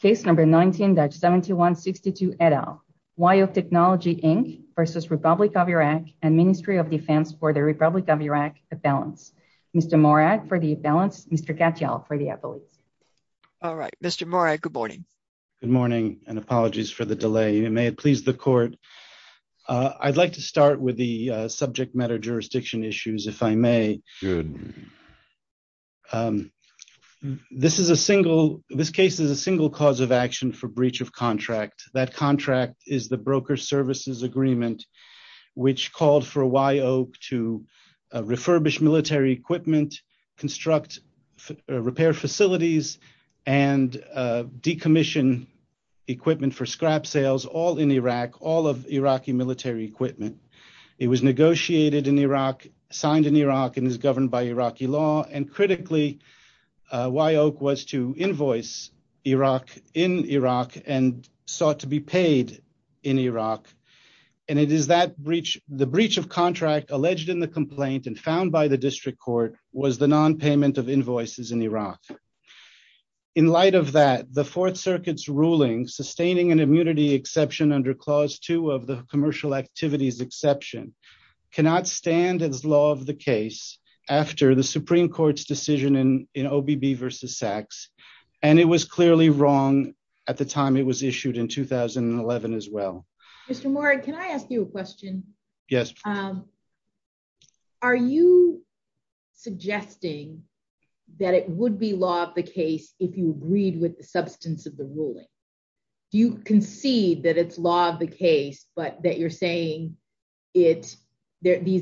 Case number 19, Dutch 7162 et al. Wye Oak Technology, Inc. v. Republic of Iraq and Ministry of Defense for the Republic of Iraq Abalance. Mr. Morag for the Abalance. Mr. Katyal for the Abalance. All right. Mr. Morag, good morning. Good morning and apologies for the delay. May it please the court. I'd like to start with the subject matter jurisdiction issues, if I may. Good morning. This case is a single cause of action for breach of contract. That contract is the broker services agreement, which called for Wye Oak to refurbish military equipment, construct repair facilities, and decommission equipment for scrap sales, all in Iraq, all of Iraqi military equipment. It was negotiated in Iraq, signed in Iraq, and is governed by Iraqi law. And critically, Wye Oak was to invoice Iraq in Iraq and sought to be paid in Iraq. And it is that breach, the breach of contract alleged in the complaint and found by the district court was the non-payment of invoices in Iraq. In light of that, the Fourth Circuit's under clause two of the commercial activities exception cannot stand as law of the case after the Supreme Court's decision in OBB versus Sachs. And it was clearly wrong at the time it was issued in 2011 as well. Mr. Morag, can I ask you a question? Yes. Are you suggesting that it would be law of the case if you agreed with the substance of the ruling? Do you concede that it's law of the case, but that you're saying these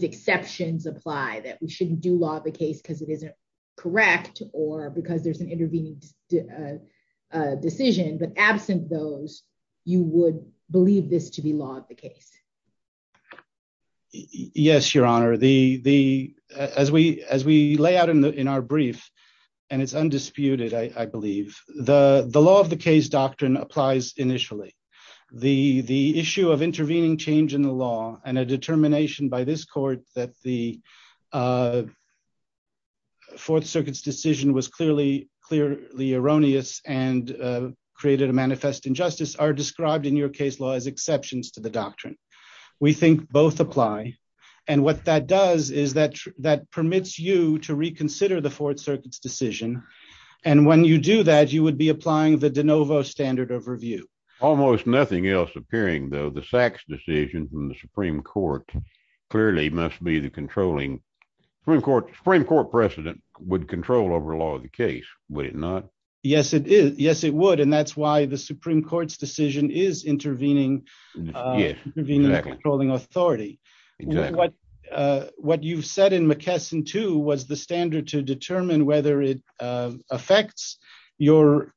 exceptions apply, that we shouldn't do law of the case because it isn't correct or because there's an intervening decision, but absent those, you would believe this to be law of the case? Yes, Your Honor. As we lay out in our brief, and it's undisputed, I believe, the law of the case doctrine applies initially. The issue of intervening change in the law and a determination by this court that the Fourth Circuit's decision was clearly erroneous and created a manifest injustice are described in your case law as exceptions to the doctrine. We think both apply. And what that does is that permits you to reconsider the Fourth Circuit's decision. And when you do that, you would be applying the de novo standard of review. Almost nothing else appearing, though, the Sachs decision from the Supreme Court clearly must be the controlling Supreme Court precedent would control over law of the case, would it not? Yes, it is. Yes, it would. And that's why the Supreme was the standard to determine whether it affects your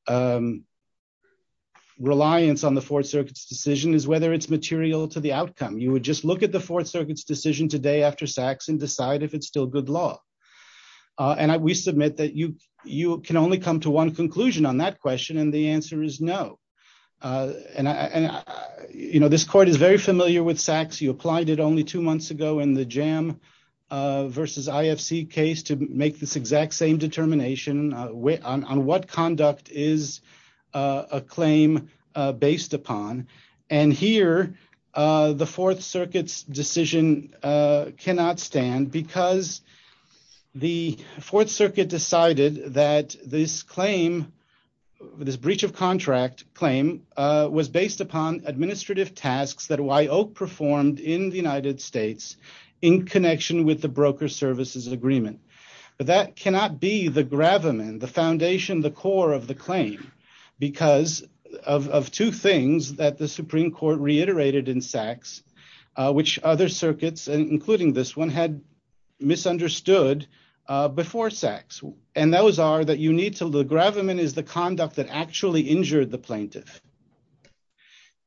reliance on the Fourth Circuit's decision is whether it's material to the outcome. You would just look at the Fourth Circuit's decision today after Sachs and decide if it's still good law. And we submit that you can only come to one conclusion on that question. And the answer is no. And, you know, this court is very familiar with Sachs. You applied it only two months ago in the jam versus IFC case to make this exact same determination on what conduct is a claim based upon. And here the Fourth Circuit's decision cannot stand because the Fourth Circuit decided that this claim, this breach of contract claim was based upon administrative tasks that Whyoke performed in the United States in connection with the broker services agreement. But that cannot be the gravamen, the foundation, the core of the claim because of two things that the Supreme Court reiterated in Sachs, which other circuits, including this one, had misunderstood before Sachs. And those are that you need to look. Gravamen is the conduct that actually injured the plaintiff.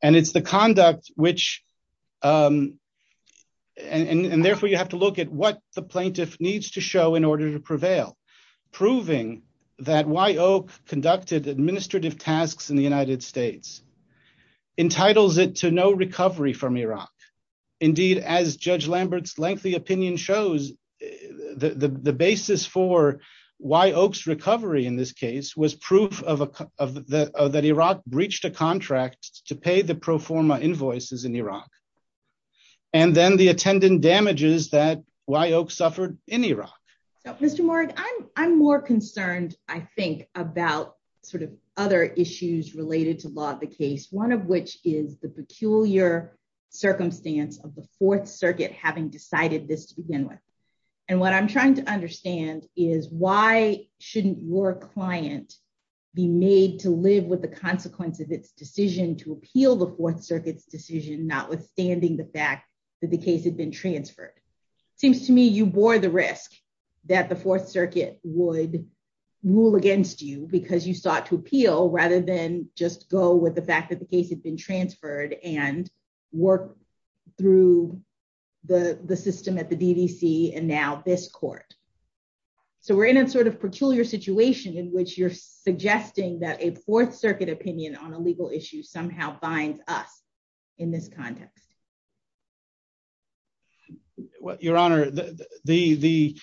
And it's the conduct which, and therefore you have to look at what the plaintiff needs to show in order to prevail, proving that Whyoke conducted administrative tasks in the United States, entitles it to no recovery from Iraq. Indeed, as Judge Lambert's lengthy opinion shows, the basis for Whyoke's recovery in this case was proof of that Iraq breached a contract to pay the pro forma invoices in Iraq. And then the attendant damages that Whyoke suffered in Iraq. So Mr. Morgan, I'm more concerned, I think, about sort of other issues related to law of the case, one of which is the peculiar circumstance of the Fourth Circuit having decided this to begin with. And what I'm trying to understand is why shouldn't your client be made to live with the consequence of its decision to appeal the Fourth Circuit's decision notwithstanding the fact that the case had been transferred? Seems to me you bore the risk that the Fourth Circuit would rule against you because you sought to appeal rather than just go with the fact that the case had been this court. So we're in a sort of peculiar situation in which you're suggesting that a Fourth Circuit opinion on a legal issue somehow binds us in this context. Your Honor, the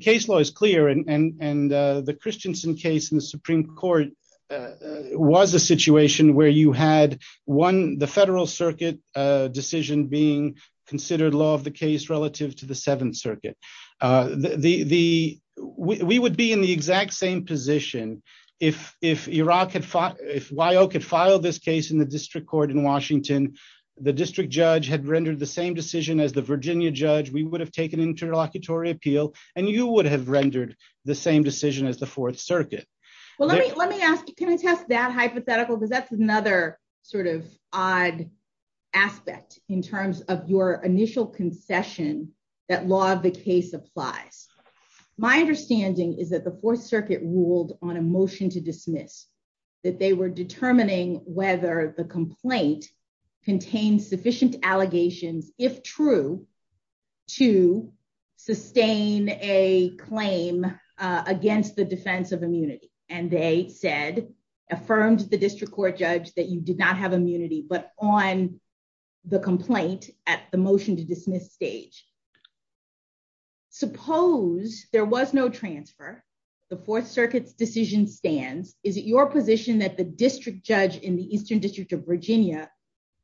case law is clear and the Christensen case in the Supreme Court was a situation where you had one, the Federal Circuit decision being considered law of the Seventh Circuit. We would be in the exact same position if Whyoke had filed this case in the district court in Washington, the district judge had rendered the same decision as the Virginia judge, we would have taken interlocutory appeal, and you would have rendered the same decision as the Fourth Circuit. Well, let me ask you, can I test that hypothetical? Because that's another sort of odd aspect in terms of your initial concession that law of the case applies. My understanding is that the Fourth Circuit ruled on a motion to dismiss, that they were determining whether the complaint contains sufficient allegations, if true, to sustain a claim against the defense of immunity, and they said, affirmed the district court judge that you did not have immunity, but on the complaint at the motion to dismiss stage. Suppose there was no transfer, the Fourth Circuit's decision stands, is it your position that the district judge in the Eastern District of Virginia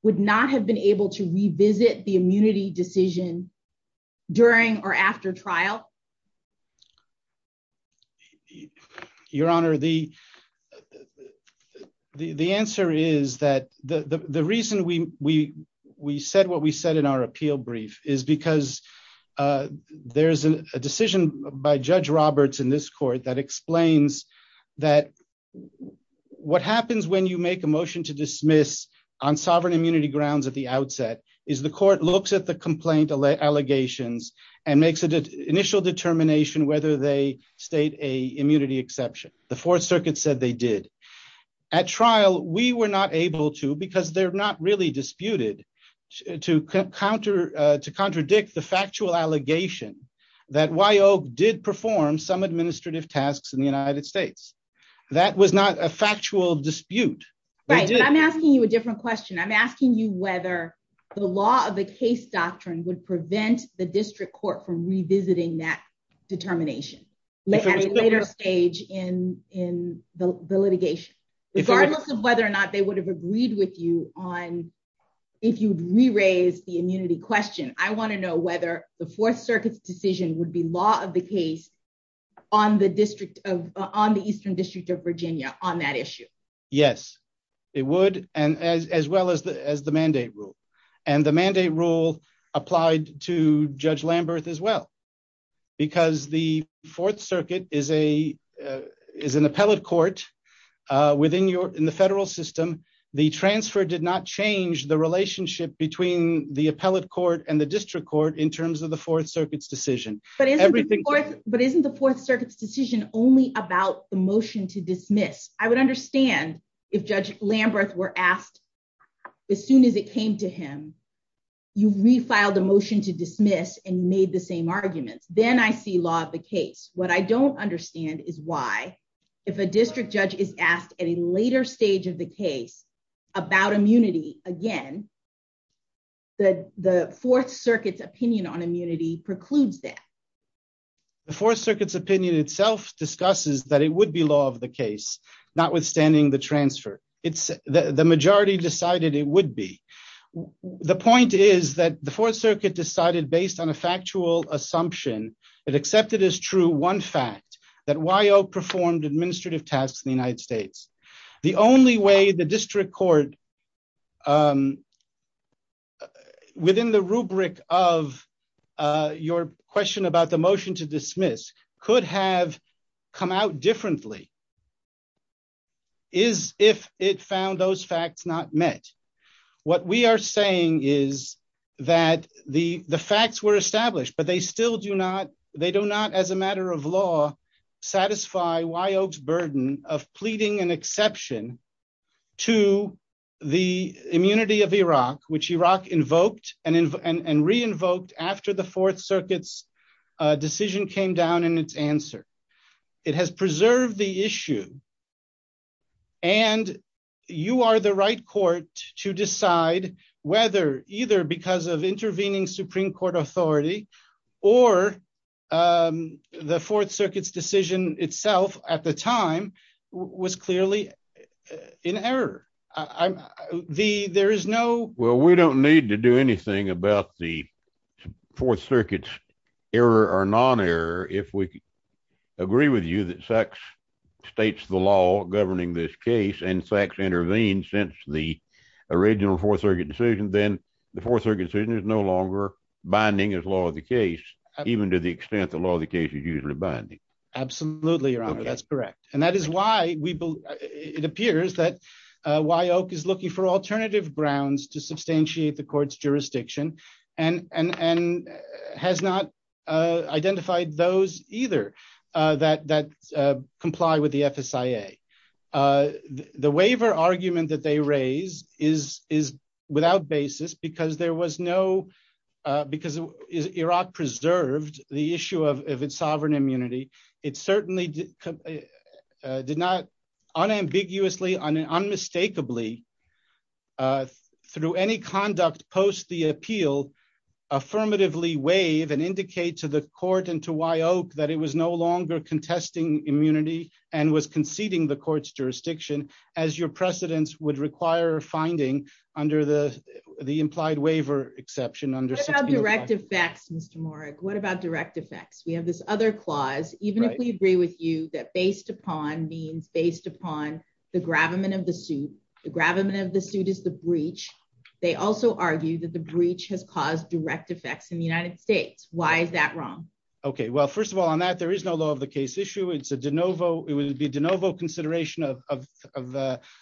would not have been able to revisit the immunity decision during or after trial? Your Honor, the answer is that the reason we said what we said in our appeal brief is because there's a decision by Judge Roberts in this court that explains that what happens when you make a motion to dismiss on sovereign immunity grounds at the outset is the court looks at the complaint allegations and makes an initial determination whether they state a immunity exception. The Fourth Circuit said they did. At trial, we were not able to, because they're not really disputed, to contradict the factual allegation that Wyoke did perform some administrative tasks in the United States. That was not a factual dispute. Right, but I'm asking you a different question. I'm asking you whether the law of the case doctrine would prevent the district court from revisiting that determination at a later stage in the litigation. Regardless of whether or not they would have agreed with you on if you'd re-raise the immunity question, I want to know whether the Fourth Circuit's decision would be law of the case on the Eastern District of Virginia on that issue. Yes, it would, as well as the mandate rule, and the mandate rule applied to Judge Lamberth as well, because the Fourth Circuit is an appellate court within the federal system. The transfer did not change the relationship between the appellate court and the district court in terms of the Fourth Circuit's decision. But isn't the Fourth Circuit's decision only about the motion to dismiss? I would understand if Judge Lamberth were asked as soon as it came to him, you've refiled a motion to dismiss and made the same arguments. Then I see law of the case. What I don't understand is why, if a district judge is asked at a later stage of the case about immunity, again, the Fourth Circuit's opinion on immunity precludes that. The Fourth Circuit's opinion itself discusses that it would be law of the case, notwithstanding the transfer. The majority decided it would be. The point is that the Fourth Circuit decided, based on a factual assumption that accepted as true one fact, that WYO performed administrative tasks in the United States. The only way the district court, within the rubric of your question about the motion to dismiss, could have come out differently is if it found those facts not met. What we are saying is that the facts were established, but they still do not, as a matter of law, satisfy WYO's burden of pleading an exception to the immunity of Iraq, which Iraq invoked and re-invoked after the Fourth Circuit's decision came down in its answer. It has preserved the issue, and you are the right to decide whether, either because of intervening Supreme Court authority or the Fourth Circuit's decision itself at the time was clearly in error. We don't need to do anything about the Fourth Circuit's error or non-error if we original Fourth Circuit decision, then the Fourth Circuit's decision is no longer binding as law of the case, even to the extent that law of the case is usually binding. Absolutely, Your Honor. That's correct. That is why it appears that WYO is looking for alternative grounds to substantiate the court's jurisdiction and has not identified those either that comply with the FSIA. The waiver argument that they raise is without basis because Iraq preserved the issue of its sovereign immunity. It certainly did not unambiguously, unmistakably, through any conduct post the appeal, affirmatively waive and indicate to the court and to WYO that it was no longer contesting immunity and was conceding the court's jurisdiction, as your precedence would require a finding under the implied waiver exception. What about direct effects, Mr. Morak? What about direct effects? We have this other clause, even if we agree with you that based upon means based upon the gravamen of the suit, the gravamen of the suit is the breach. They also argue that the breach has caused direct effects in the United States. Why is that wrong? Okay, well, first of all, on that, there is no law of the case issue. It's a de novo. It would be de novo consideration of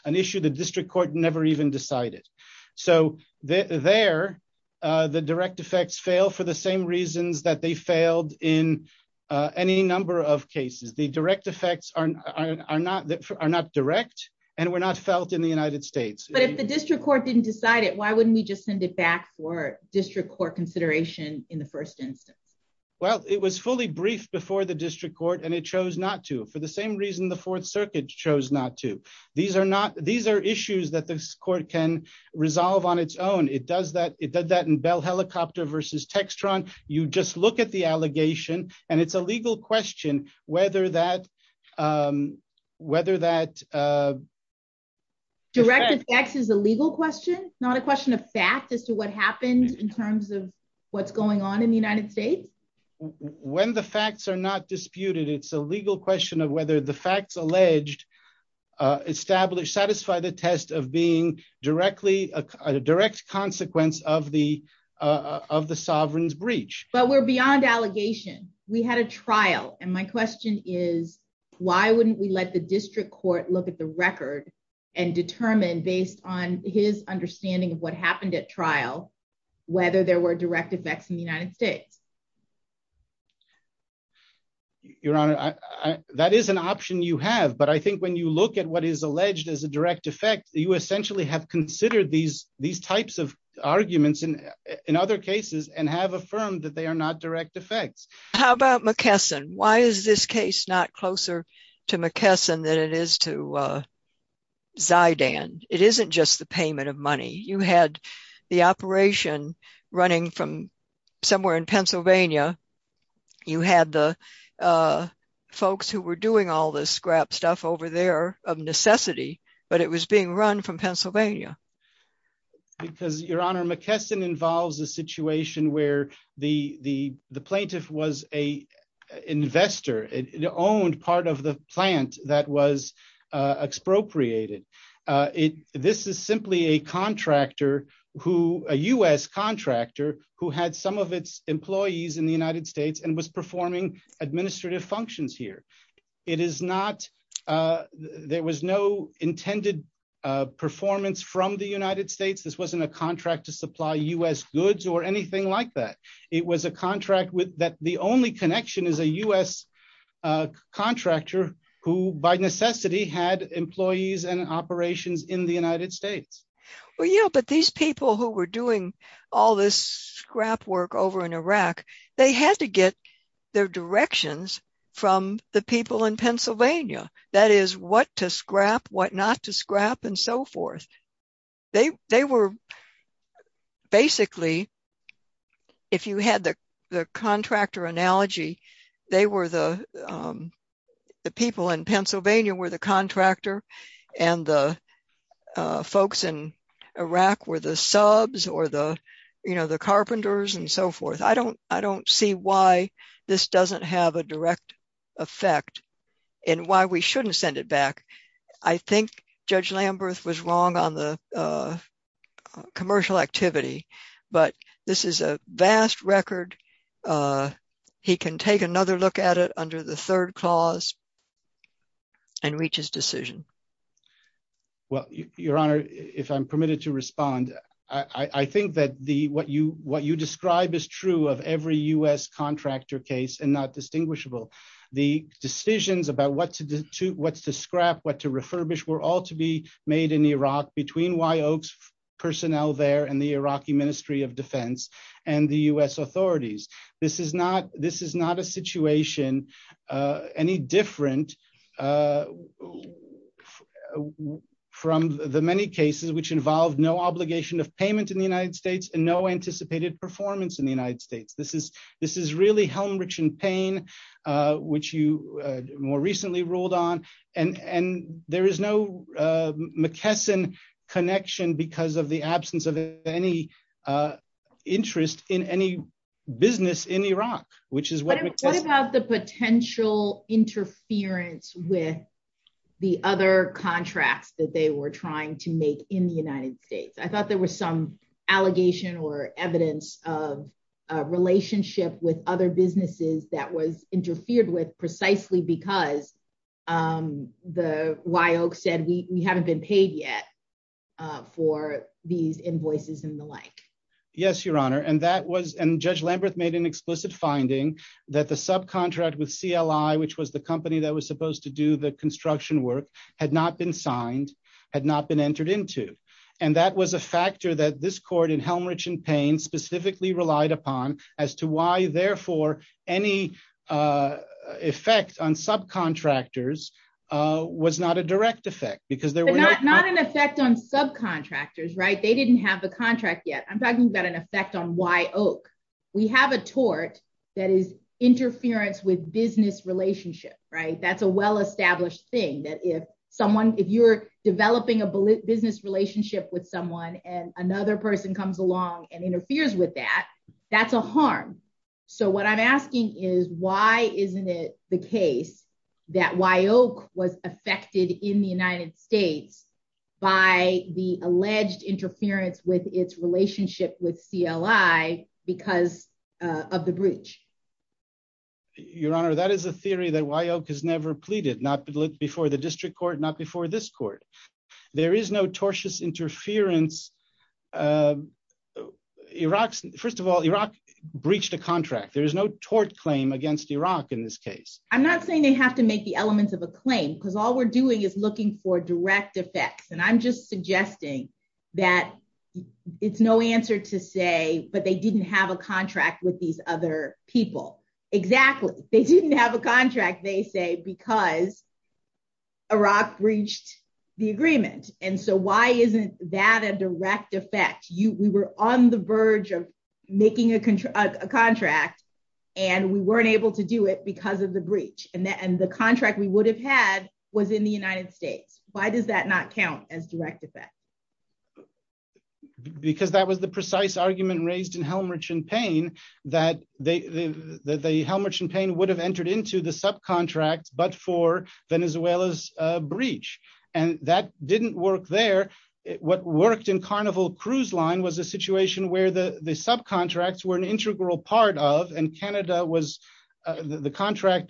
an issue the district court never even decided. So there, the direct effects fail for the same reasons that they failed in any number of cases. The direct effects are not direct and were not felt in the United States. But if the district court didn't decide it, why wouldn't we just send it back for district court consideration in the first instance? Well, it was fully briefed before the district court and it chose not to for the same reason the Fourth Circuit chose not to. These are issues that this court can resolve on its own. It does that in Bell Helicopter versus Textron. You just look at the allegation, and it's a legal question whether that... Direct effects is a legal question, not a question of fact as to what happened in terms of what's going on in the United States. When the facts are not disputed, it's a legal question of whether the facts alleged establish, satisfy the test of being a direct consequence of the sovereign's breach. But we're beyond allegation. We had a trial. And my question is, why wouldn't we let the district court look at the record and determine based on his understanding of what happened at trial, whether there were direct effects in the United States? Your Honor, that is an option you have. But I think when you look at what is alleged as a direct effect, you essentially have considered these types of arguments in other cases and have affirmed that they are not direct effects. How about McKesson? Why is this case not closer to McKesson than it is to Zidane? It isn't just the payment of money. You had the operation running from somewhere in Pennsylvania. You had the folks who were doing all this scrap stuff over there of necessity, but it was being run from Pennsylvania. Because, Your Honor, McKesson involves a situation where the plaintiff was an investor. It owned part of the plant that was expropriated. This is simply a US contractor who had some of its employees in the United States and was performing administrative functions here. There was no intended performance from the United States. This wasn't a contract to supply US goods or anything like that. It was a contract with that the only connection is a US contractor who by necessity had employees and operations in the United States. Well, yeah, but these people who were doing all this scrap work over in Iraq, they had to get their directions from the people in Pennsylvania. That is what to scrap, what not to scrap, and so forth. Basically, if you had the contractor analogy, the people in Pennsylvania were the contractor and the folks in Iraq were the subs or the carpenters and so forth. I don't see why this doesn't have a direct effect and why we shouldn't send it back. I think Judge Lamberth was wrong on the commercial activity, but this is a vast record. He can take another look at it under the third clause and reach his decision. Well, Your Honor, if I'm permitted to respond, I think that what you describe is true of every US contractor case and not distinguishable. The decisions about what to scrap, what to refurbish, were all to be made in Iraq between Wyoke's personnel there and the Iraqi Ministry of Defense and the US authorities. This is not a situation any different from the many cases which involved no obligation of payment in the performance in the United States. This is really helm-rich in pain, which you more recently ruled on. There is no McKesson connection because of the absence of any interest in any business in Iraq. What about the potential interference with the other contracts that they were trying to make in the United States? I thought there was some allegation or evidence of a relationship with other businesses that was interfered with precisely because Wyoke said, we haven't been paid yet for these invoices and the like. Yes, Your Honor. Judge Lamberth made an explicit finding that the subcontract with CLI, which was the company that was supposed to do the construction work, had not been signed, had not been entered into. That was a factor that this court in helm-rich in pain specifically relied upon as to why, therefore, any effect on subcontractors was not a direct effect. Not an effect on subcontractors. They didn't have a contract yet. I'm talking about an effect on Wyoke. We have a tort that is interference with a business relationship. That's a well-established thing. If you're developing a business relationship with someone and another person comes along and interferes with that, that's a harm. What I'm asking is, why isn't it the case that Wyoke was affected in the United States by the alleged interference with its relationship with CLI because of the breach? Your Honor, that is a theory that Wyoke has never pleaded, not before the district court, not before this court. There is no tortious interference. First of all, Iraq breached a contract. There is no tort claim against Iraq in this case. I'm not saying they have to make the elements of a claim because all we're doing is looking for direct effects. I'm just suggesting that it's no answer to say, but they didn't have a contract with these other people. Exactly. They didn't have a contract, they say, because Iraq breached the agreement. Why isn't that a direct effect? We were on the verge of making a contract and we weren't able to do it because of the breach. The contract we would have had was in the United States. Why does that not count as direct effect? Because that was the precise argument raised in Helmer-Champaign that the Helmer-Champaign would have entered into the subcontract but for Venezuela's breach. That didn't work there. What worked in Carnival Cruise Line was a situation where the subcontracts were an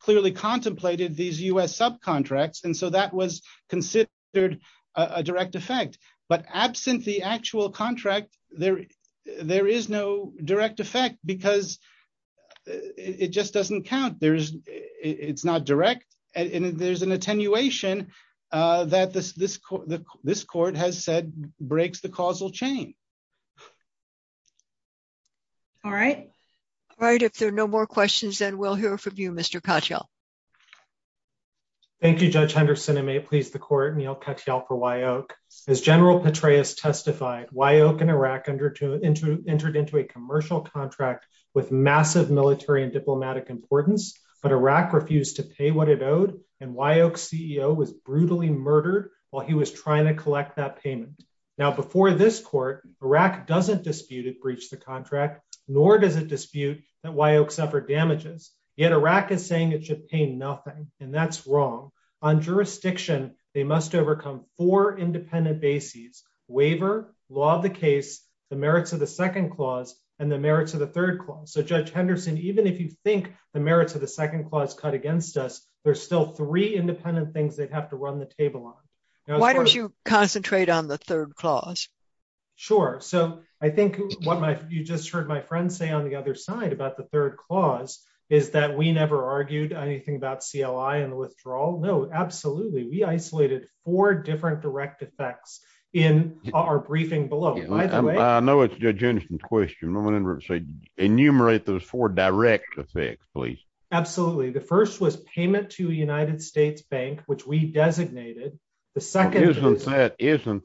clearly contemplated these U.S. subcontracts. That was considered a direct effect. But absent the actual contract, there is no direct effect because it just doesn't count. It's not direct. There's an attenuation that this court has said breaks the causal chain. All right. If there are no more questions, then we'll hear from you, Mr. Katyal. Thank you, Judge Henderson. I may please the court, Neal Katyal for Wyok. As General Petraeus testified, Wyok and Iraq entered into a commercial contract with massive military and diplomatic importance, but Iraq refused to pay what it owed and Wyok's CEO was Iraq doesn't dispute it breached the contract, nor does it dispute that Wyok suffered damages, yet Iraq is saying it should pay nothing. That's wrong. On jurisdiction, they must overcome four independent bases, waiver, law of the case, the merits of the second clause, and the merits of the third clause. Judge Henderson, even if you think the merits of the second clause cut against us, there's still three independent things they'd have to run the table on. Why don't you concentrate on the third clause? Sure. I think what you just heard my friend say on the other side about the third clause is that we never argued anything about CLI and the withdrawal. No, absolutely. We isolated four different direct effects in our briefing below. I know it's Judge Henderson's question. I want to say enumerate those four direct effects, please. Absolutely. The first was payment to a United States bank, which we designated. Isn't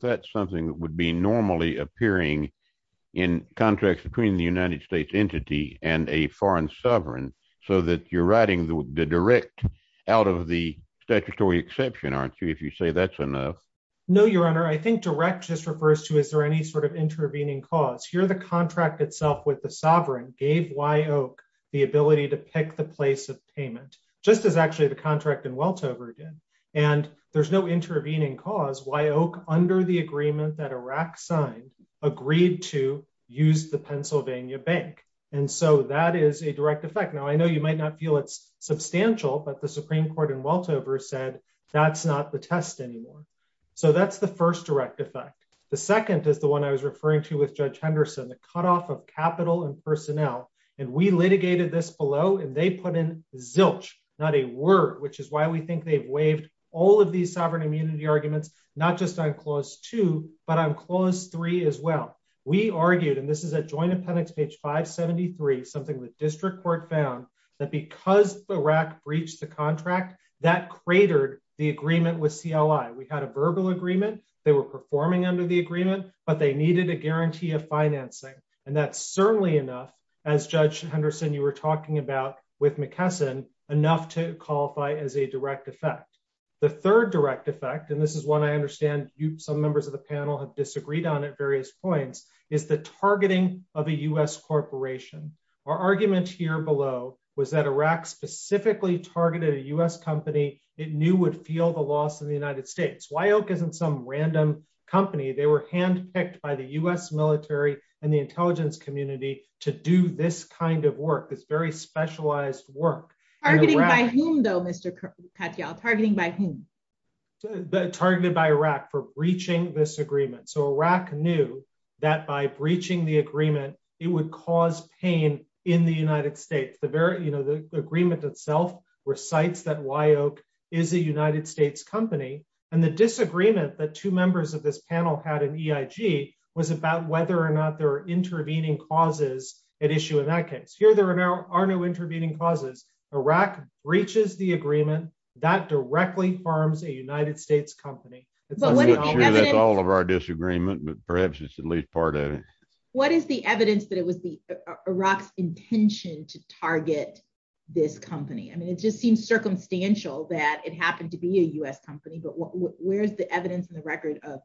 that something that would be normally appearing in contracts between the United States entity and a foreign sovereign, so that you're writing the direct out of the statutory exception, aren't you, if you say that's enough? No, Your Honor. I think direct just refers to is there any sort of intervening cause. Here, the contract itself with the sovereign gave Wyok the ability to pick the place of payment, just as actually the contract in Weltover did. There's no intervening cause. Wyok, under the agreement that Iraq signed, agreed to use the Pennsylvania bank. That is a direct effect. Now, I know you might not feel it's substantial, but the Supreme Court in Weltover said that's not the test anymore. That's the first direct effect. The second is the one I was referring to with Judge Henderson, the cutoff of capital and personnel. We litigated this below, and they put in zilch, not a word, which is why we think they've waived all of these sovereign immunity arguments, not just on Clause 2, but on Clause 3 as well. We argued, and this is at Joint Appendix, page 573, something the district court found, that because Iraq breached the contract, that cratered the agreement with CLI. We had a verbal agreement. They were performing under the agreement, but they needed a guarantee of with McKesson enough to qualify as a direct effect. The third direct effect, and this is one I understand some members of the panel have disagreed on at various points, is the targeting of a U.S. corporation. Our argument here below was that Iraq specifically targeted a U.S. company it knew would feel the loss of the United States. Wyok isn't some random company. They were specialized work. Targeting by whom, though, Mr. Katyal? Targeting by whom? Targeted by Iraq for breaching this agreement. Iraq knew that by breaching the agreement, it would cause pain in the United States. The agreement itself recites that Wyok is a United States company. The disagreement that two members of this panel had in EIG was about whether or not there are intervening causes at issue in that case. Here, there are no intervening causes. Iraq breaches the agreement. That directly harms a United States company. I'm not sure that's all of our disagreement, but perhaps it's at least part of it. What is the evidence that it was Iraq's intention to target this company? I mean, it just seems circumstantial that it happened to be a U.S. company, but where's the evidence and the record of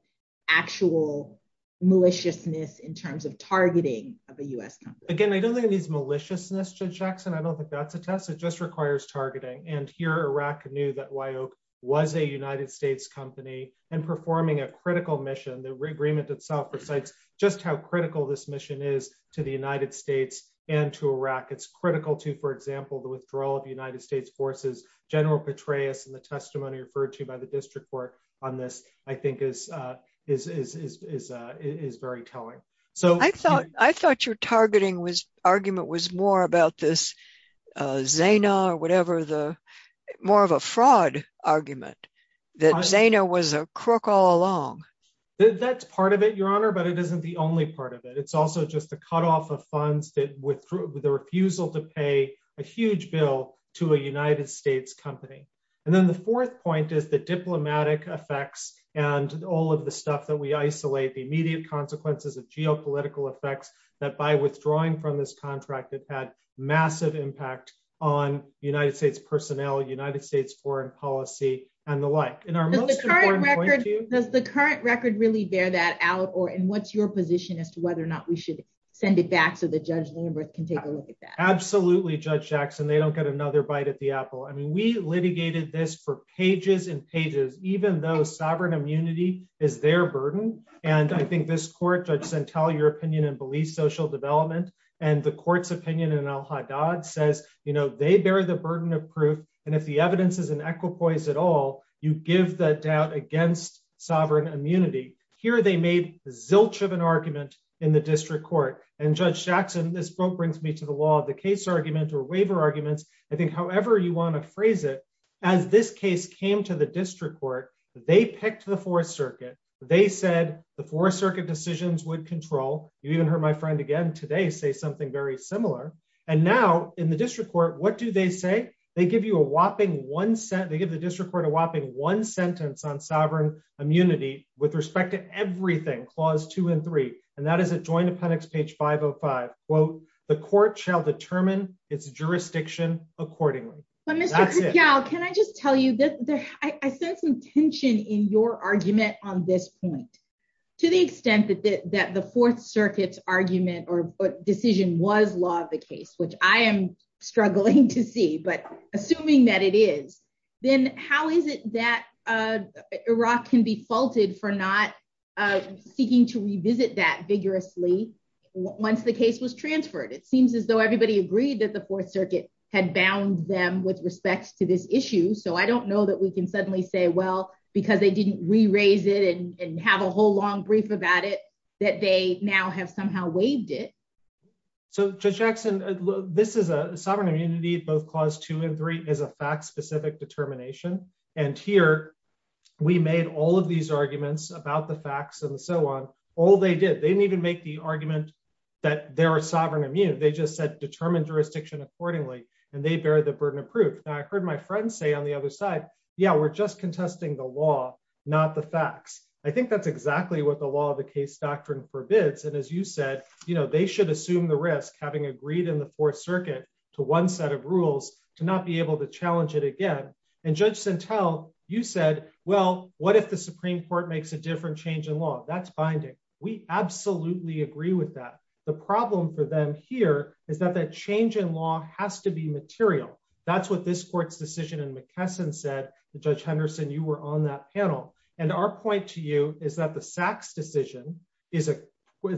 actual maliciousness in terms of targeting of a U.S. company? Again, I don't think it needs maliciousness, Judge Jackson. I don't think that's a test. It just requires targeting. Here, Iraq knew that Wyok was a United States company and performing a critical mission. The agreement itself recites just how critical this mission is to the United States and to Iraq. It's critical to, for example, the withdrawal of United States forces. General is very telling. I thought your targeting argument was more about this Zana or whatever, more of a fraud argument that Zana was a crook all along. That's part of it, Your Honor, but it isn't the only part of it. It's also just the cutoff of funds with the refusal to pay a huge bill to a United States company. Then the fourth point is diplomatic effects and all of the stuff that we isolate, the immediate consequences of geopolitical effects that by withdrawing from this contract that had massive impact on United States personnel, United States foreign policy, and the like. Does the current record really bear that out? What's your position as to whether or not we should send it back so that Judge Lindberth can take a look at that? Absolutely, Judge Jackson. They don't get another bite at the apple. We litigated this for even though sovereign immunity is their burden. I think this court, Judge Santel, your opinion and belief social development and the court's opinion in Al-Haddad says they bear the burden of proof. If the evidence is an equipoise at all, you give the doubt against sovereign immunity. Here, they made zilch of an argument in the district court. Judge Jackson, this book brings me to the law of the case argument or waiver arguments. I think however you want to phrase it, as this case came to the district court, they picked the Fourth Circuit. They said the Fourth Circuit decisions would control. You even heard my friend again today say something very similar. Now, in the district court, what do they say? They give the district court a whopping one sentence on sovereign immunity with respect to everything, clause 2 and 3, and that is adjoined appendix 505, quote, the court shall determine its jurisdiction accordingly. Mr. Kutyal, can I just tell you, I sense some tension in your argument on this point. To the extent that the Fourth Circuit's argument or decision was law of the case, which I am struggling to see, but assuming that it is, then how is it that Iraq can be faulted for not seeking to revisit that unambiguously once the case was transferred? It seems as though everybody agreed that the Fourth Circuit had bound them with respect to this issue. I don't know that we can suddenly say, well, because they didn't re-raise it and have a whole long brief about it, that they now have somehow waived it. Judge Jackson, this is a sovereign immunity. Both clause 2 and 3 is a fact-specific determination. Here, we made all of these arguments that they were sovereign immune. They just said, determine jurisdiction accordingly, and they bear the burden of proof. I heard my friend say on the other side, yeah, we're just contesting the law, not the facts. I think that's exactly what the law of the case doctrine forbids. As you said, they should assume the risk, having agreed in the Fourth Circuit to one set of rules, to not be able to challenge it again. Judge Sentelle, you said, well, what if the Supreme Court makes a different change in law? That's binding. We absolutely agree with that. The problem for them here is that that change in law has to be material. That's what this court's decision in McKesson said. Judge Henderson, you were on that panel. Our point to you is that the Sachs decision, it's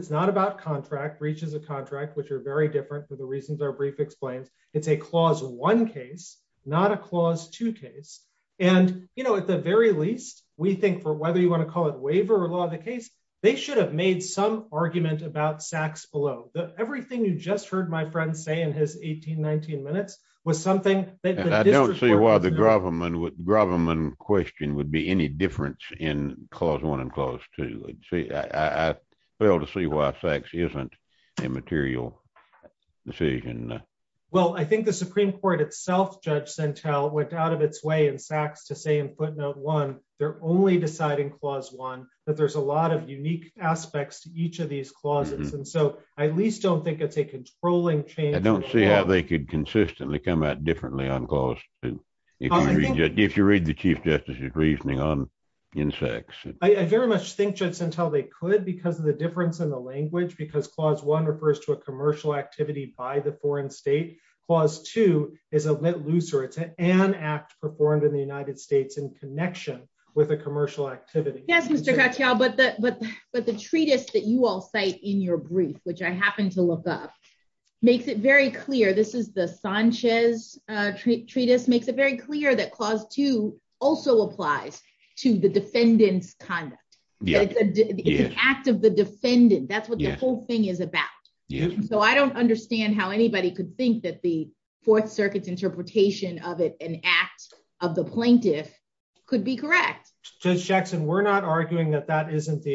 not about contract, reaches a contract, which are very different for the reasons our brief explains. It's a clause 1 case, not a clause 2 case. At the very least, we think for whether you want to call it waiver or law of the case, they should have made some argument about Sachs below. Everything you just heard my friend say in his 18, 19 minutes was something that- I don't see why the government question would be any difference in clause 1 and clause 2. I fail to see why Sachs isn't a material decision. Well, I think the Supreme Court itself, Judge Sentelle, went out of its way in Sachs to say they're only deciding clause 1, that there's a lot of unique aspects to each of these clauses. I at least don't think it's a controlling change. I don't see how they could consistently come out differently on clause 2, if you read the Chief Justice's reasoning on in Sachs. I very much think, Judge Sentelle, they could because of the difference in the language, because clause 1 refers to a commercial activity by the foreign state. Clause 2 is a lit looser. It's an act performed in the United States in connection with a commercial activity. Yes, Mr. Katyal, but the treatise that you all cite in your brief, which I happen to look up, makes it very clear. This is the Sanchez treatise, makes it very clear that clause 2 also applies to the defendant's conduct. It's an act of the defendant. That's what the whole thing is about. I don't understand how anybody could think that the Fourth Circuit's interpretation of it, an act of the plaintiff, could be correct. Judge Jackson, we're not arguing that that isn't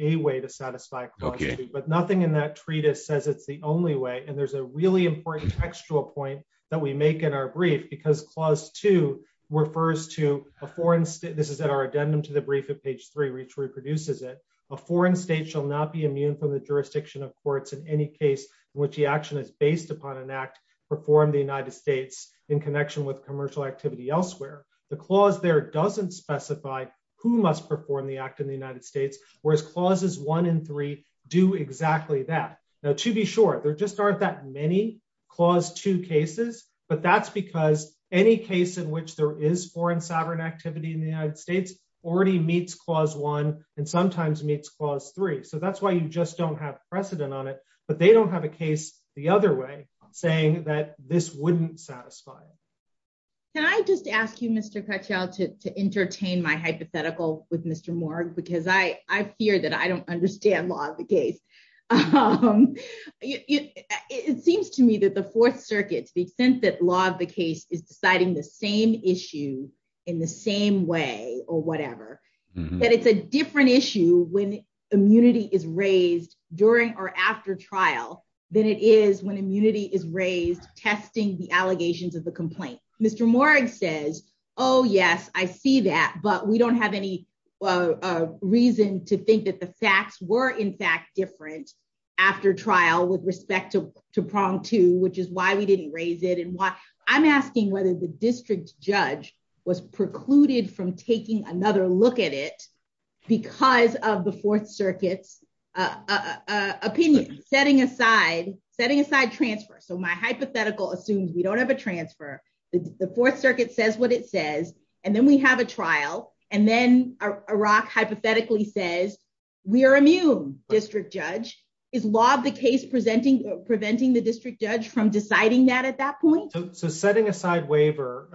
a way to satisfy clause 2, but nothing in that treatise says it's the only way. There's a really important textual point that we make in our brief because clause 2 refers to a foreign state. This is at our addendum to the brief at page 3, which reproduces it. A foreign state shall not be immune from the jurisdiction of courts in any case in which the action is based upon an act performed in the United States in connection with commercial activity elsewhere. The clause there doesn't specify who must perform the act in the United States, whereas clauses 1 and 3 do exactly that. Now, to be sure, there just aren't that many clause 2 cases, but that's because any case in which there is foreign sovereign activity in the United States already meets clause 1 and sometimes meets clause 3. That's why you just don't have precedent on it, but they don't have a case the other way saying that this wouldn't satisfy it. Can I just ask you, Mr. Crutchfield, to entertain my hypothetical with Mr. Morgue because I fear that I don't understand law of the case. It seems to me that the Fourth Circuit, to the extent that law of the case is deciding the same issue in the same way or whatever, that it's a different issue when immunity is raised during or after trial than it is when immunity is raised testing the allegations of the complaint. Mr. Morgue says, oh, yes, I see that, but we don't have any reason to think that the facts were, in fact, different after trial with respect to prong 2, which is why we didn't raise it. I'm asking whether the district judge was precluded from taking another look at it because of the Fourth Circuit's opinion. Setting aside transfer, so my hypothetical assumes we don't have a transfer. The Fourth Circuit says what it says, and then we have a trial, and then a rock hypothetically says we are immune, district judge. Is law of the case preventing the district judge from deciding that at that point? Setting aside waiver,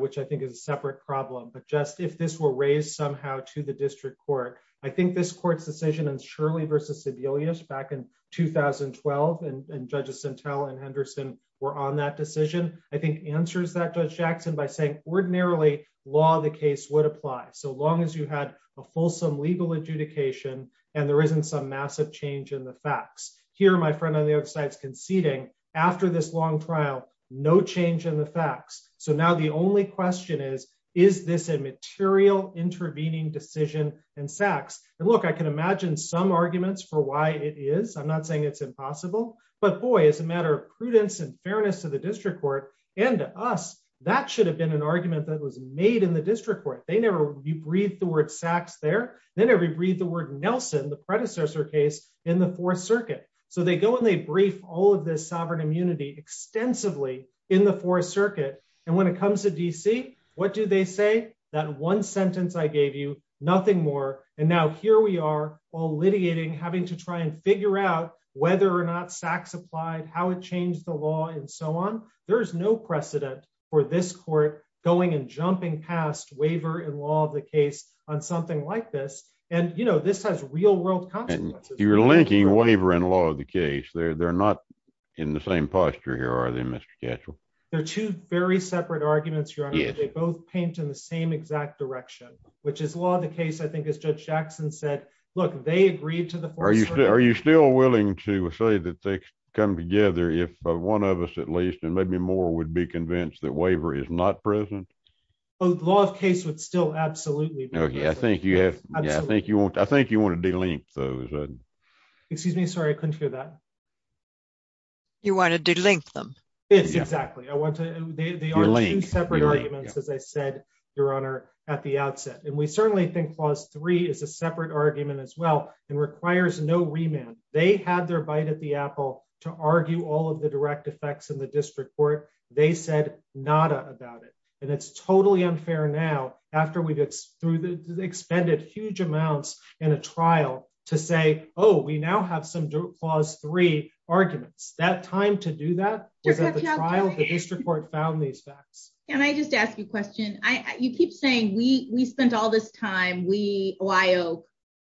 which I think is a separate problem, but just if this were raised somehow to the district court, I think this court's decision in Shirley v. Sebelius back in 2012, and Judges Sintel and Henderson were on that decision, I think answers that, Judge Jackson, by saying ordinarily, law of the case would apply so long as you had a fulsome legal adjudication and there isn't some massive change in the facts. Here, my friend on the other side is conceding. After this long trial, no change in the facts. Now, the only question is, is this a material intervening decision in Sachs? Look, I can imagine some arguments for why it is. I'm not saying it's impossible, but boy, as a matter of prudence and fairness to the district court and to us, that should have been an argument that was made in the district court. You breathe the word Sachs there, then every breathe the word Nelson, the predecessor case in the Fourth Circuit. They go and they in the Fourth Circuit. When it comes to DC, what do they say? That one sentence I gave you, nothing more. Now, here we are all litigating, having to try and figure out whether or not Sachs applied, how it changed the law and so on. There's no precedent for this court going and jumping past waiver and law of the case on something like this. This has real world consequences. You're linking waiver and law of the case. They're not in the same posture here, are they, Mr. Katchel? They're two very separate arguments, Your Honor. They both paint in the same exact direction, which is law of the case. I think as Judge Jackson said, look, they agreed to the Fourth Circuit. Are you still willing to say that they come together if one of us at least, and maybe more, would be convinced that waiver is not present? The law of case would still be present. I think you want to delink those. Excuse me, sorry, I couldn't hear that. You want to delink them? Yes, exactly. They are two separate arguments, as I said, Your Honor, at the outset. We certainly think clause three is a separate argument as well and requires no remand. They had their bite at the apple to argue all of the direct effects in the district court. They said nada about it. It's totally unfair now after we've expended huge amounts in a trial to say, oh, we now have some clause three arguments. That time to do that was at the trial. The district court found these facts. Can I just ask you a question? You keep saying we spent all this time, we, OIO,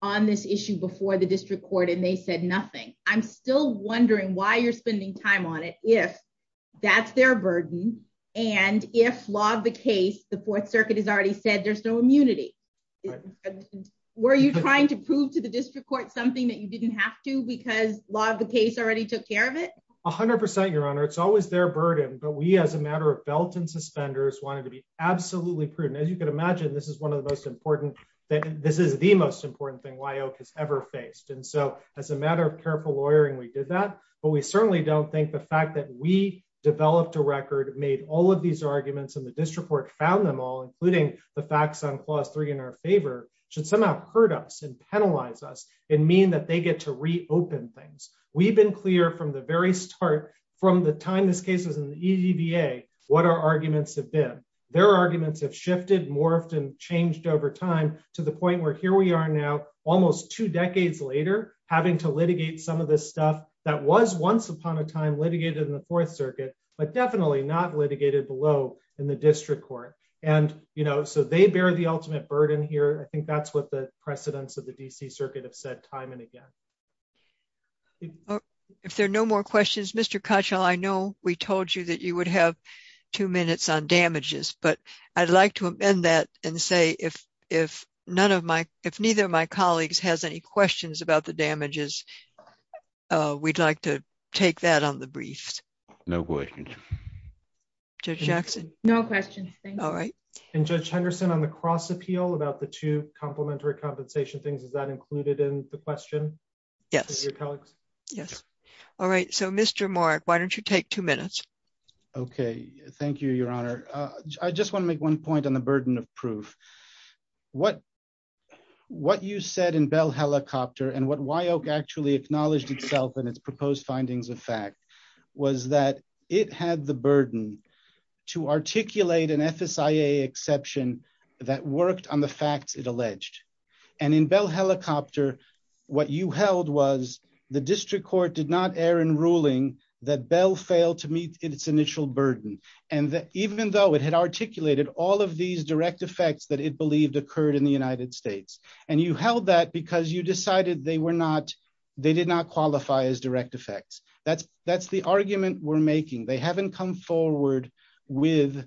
on this issue before the district court and they said nothing. I'm still wondering why you're spending time on it if that's their burden and if law of the case, the Fourth Circuit has already said there's no immunity. Were you trying to prove to the district court something that you didn't have to because law of the case already took care of it? 100 percent, Your Honor. It's always their burden, but we as a matter of belt and suspenders wanted to be absolutely prudent. As you can imagine, this is one of the most important, this is the most important thing OIO has ever faced. As a matter of careful lawyering, we did that, but we certainly don't think the fact that we developed a record, made all of these arguments and the district court found them all, including the facts on clause three in our favor, should somehow hurt us and penalize us and mean that they get to reopen things. We've been clear from the very start, from the time this case was in the EDBA, what our arguments have been. Their arguments have shifted, morphed and changed over time to the point where here we are now, almost two decades later, having to litigate some of this stuff that was once upon a time litigated in the Fourth Circuit, but definitely not litigated below in the district court. They bear the ultimate burden here. I think that's what the precedents of the D.C. Circuit have said time and again. If there are no more questions, Mr. Kochel, I know we told you that you would have two minutes on damages, but I'd like to amend that and say if neither of my colleagues has any questions about the damages, we'd like to take that on the briefs. No questions. Judge Jackson? No questions. All right. Judge Henderson, on the cross appeal about the two complementary compensation things, is that included in the question? Yes. All right. Mr. Morick, why don't you take two minutes? Okay. Thank you, Your Honor. I just want to make one point on the burden of proof. What you said in Bell Helicopter and what Wyoke actually acknowledged itself in its proposed findings of fact was that it had the burden to articulate an FSIA exception that worked on the facts it alleged. In Bell Helicopter, what you held was the district court did not err in ruling that Bell failed to meet its initial burden, and that even though it had articulated all of these direct effects that it believed occurred in the United States, and you held that because you decided they did not qualify as direct effects. That's the argument we're making. They haven't come forward with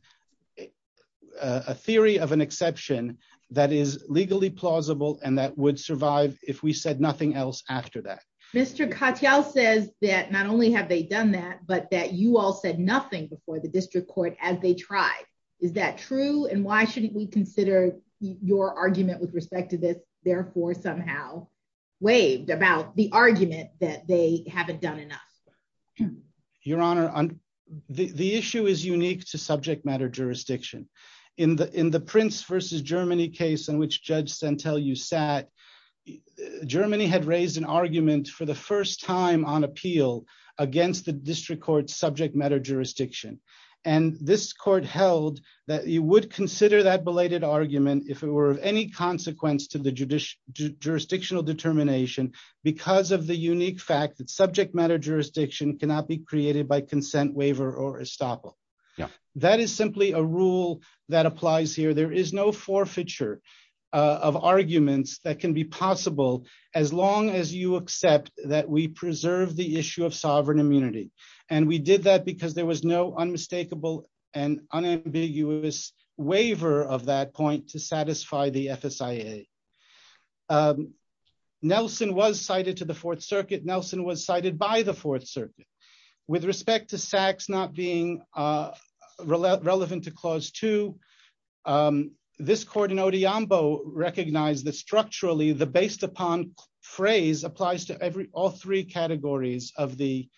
a theory of an exception that is legally plausible and that would survive if we said nothing else after that. Mr. Katyal says that not only have they done that, but that you all said nothing before the district court as they tried. Is that true? And why shouldn't we consider your argument with respect to this therefore somehow waived about the argument that they haven't done enough? Your Honor, the issue is Germany case in which Judge Santelius sat. Germany had raised an argument for the first time on appeal against the district court's subject matter jurisdiction, and this court held that you would consider that belated argument if it were of any consequence to the jurisdictional determination because of the unique fact that subject matter jurisdiction cannot be created by forfeiture of arguments that can be possible as long as you accept that we preserve the issue of sovereign immunity. And we did that because there was no unmistakable and unambiguous waiver of that point to satisfy the FSIA. Nelson was cited to the Fourth Circuit. Nelson was cited by the Fourth Circuit. With respect to Sachs not being relevant to Clause 2, this court in Odhiambo recognized that structurally the based upon phrase applies to every all three categories of the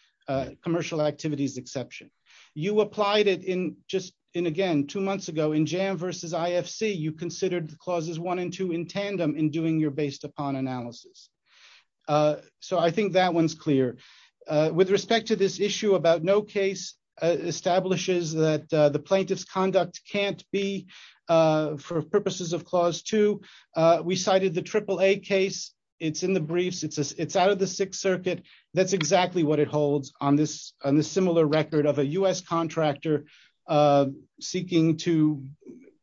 commercial activities exception. You applied it in just in again two months ago in JAM versus IFC. You considered the clauses one and two in tandem in doing your based upon analysis. So I think that one's clear. With respect to this issue about no case establishes that the plaintiff's conduct can't be for purposes of Clause 2, we cited the AAA case. It's in the briefs. It's out of the Sixth Circuit. That's exactly what it holds on this on the similar record of a U.S. contractor seeking to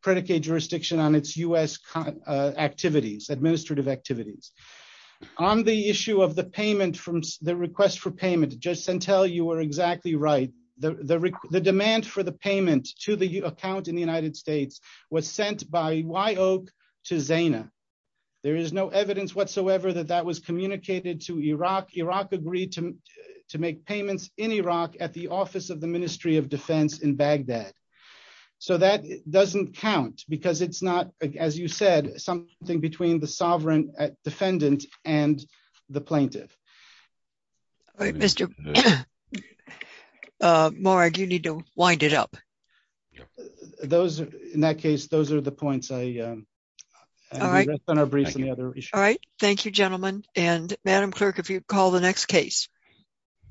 predicate jurisdiction on its U.S. activities, administrative activities. On the issue of the payment from the request for payment, Judge Santel, you were exactly right. The demand for the payment to the account in the United States was sent by Wyoke to Zena. There is no evidence whatsoever that that was communicated to Iraq. Iraq agreed to make payments in Iraq at the Office of the Ministry of Defense in Baghdad. So that doesn't count because it's not, as you said, something between the sovereign defendant and the plaintiff. All right, Mr. Morag, you need to wind it up. Those, in that case, those are the points. All right. All right. Thank you, gentlemen. And Madam Clerk, if you call the next case.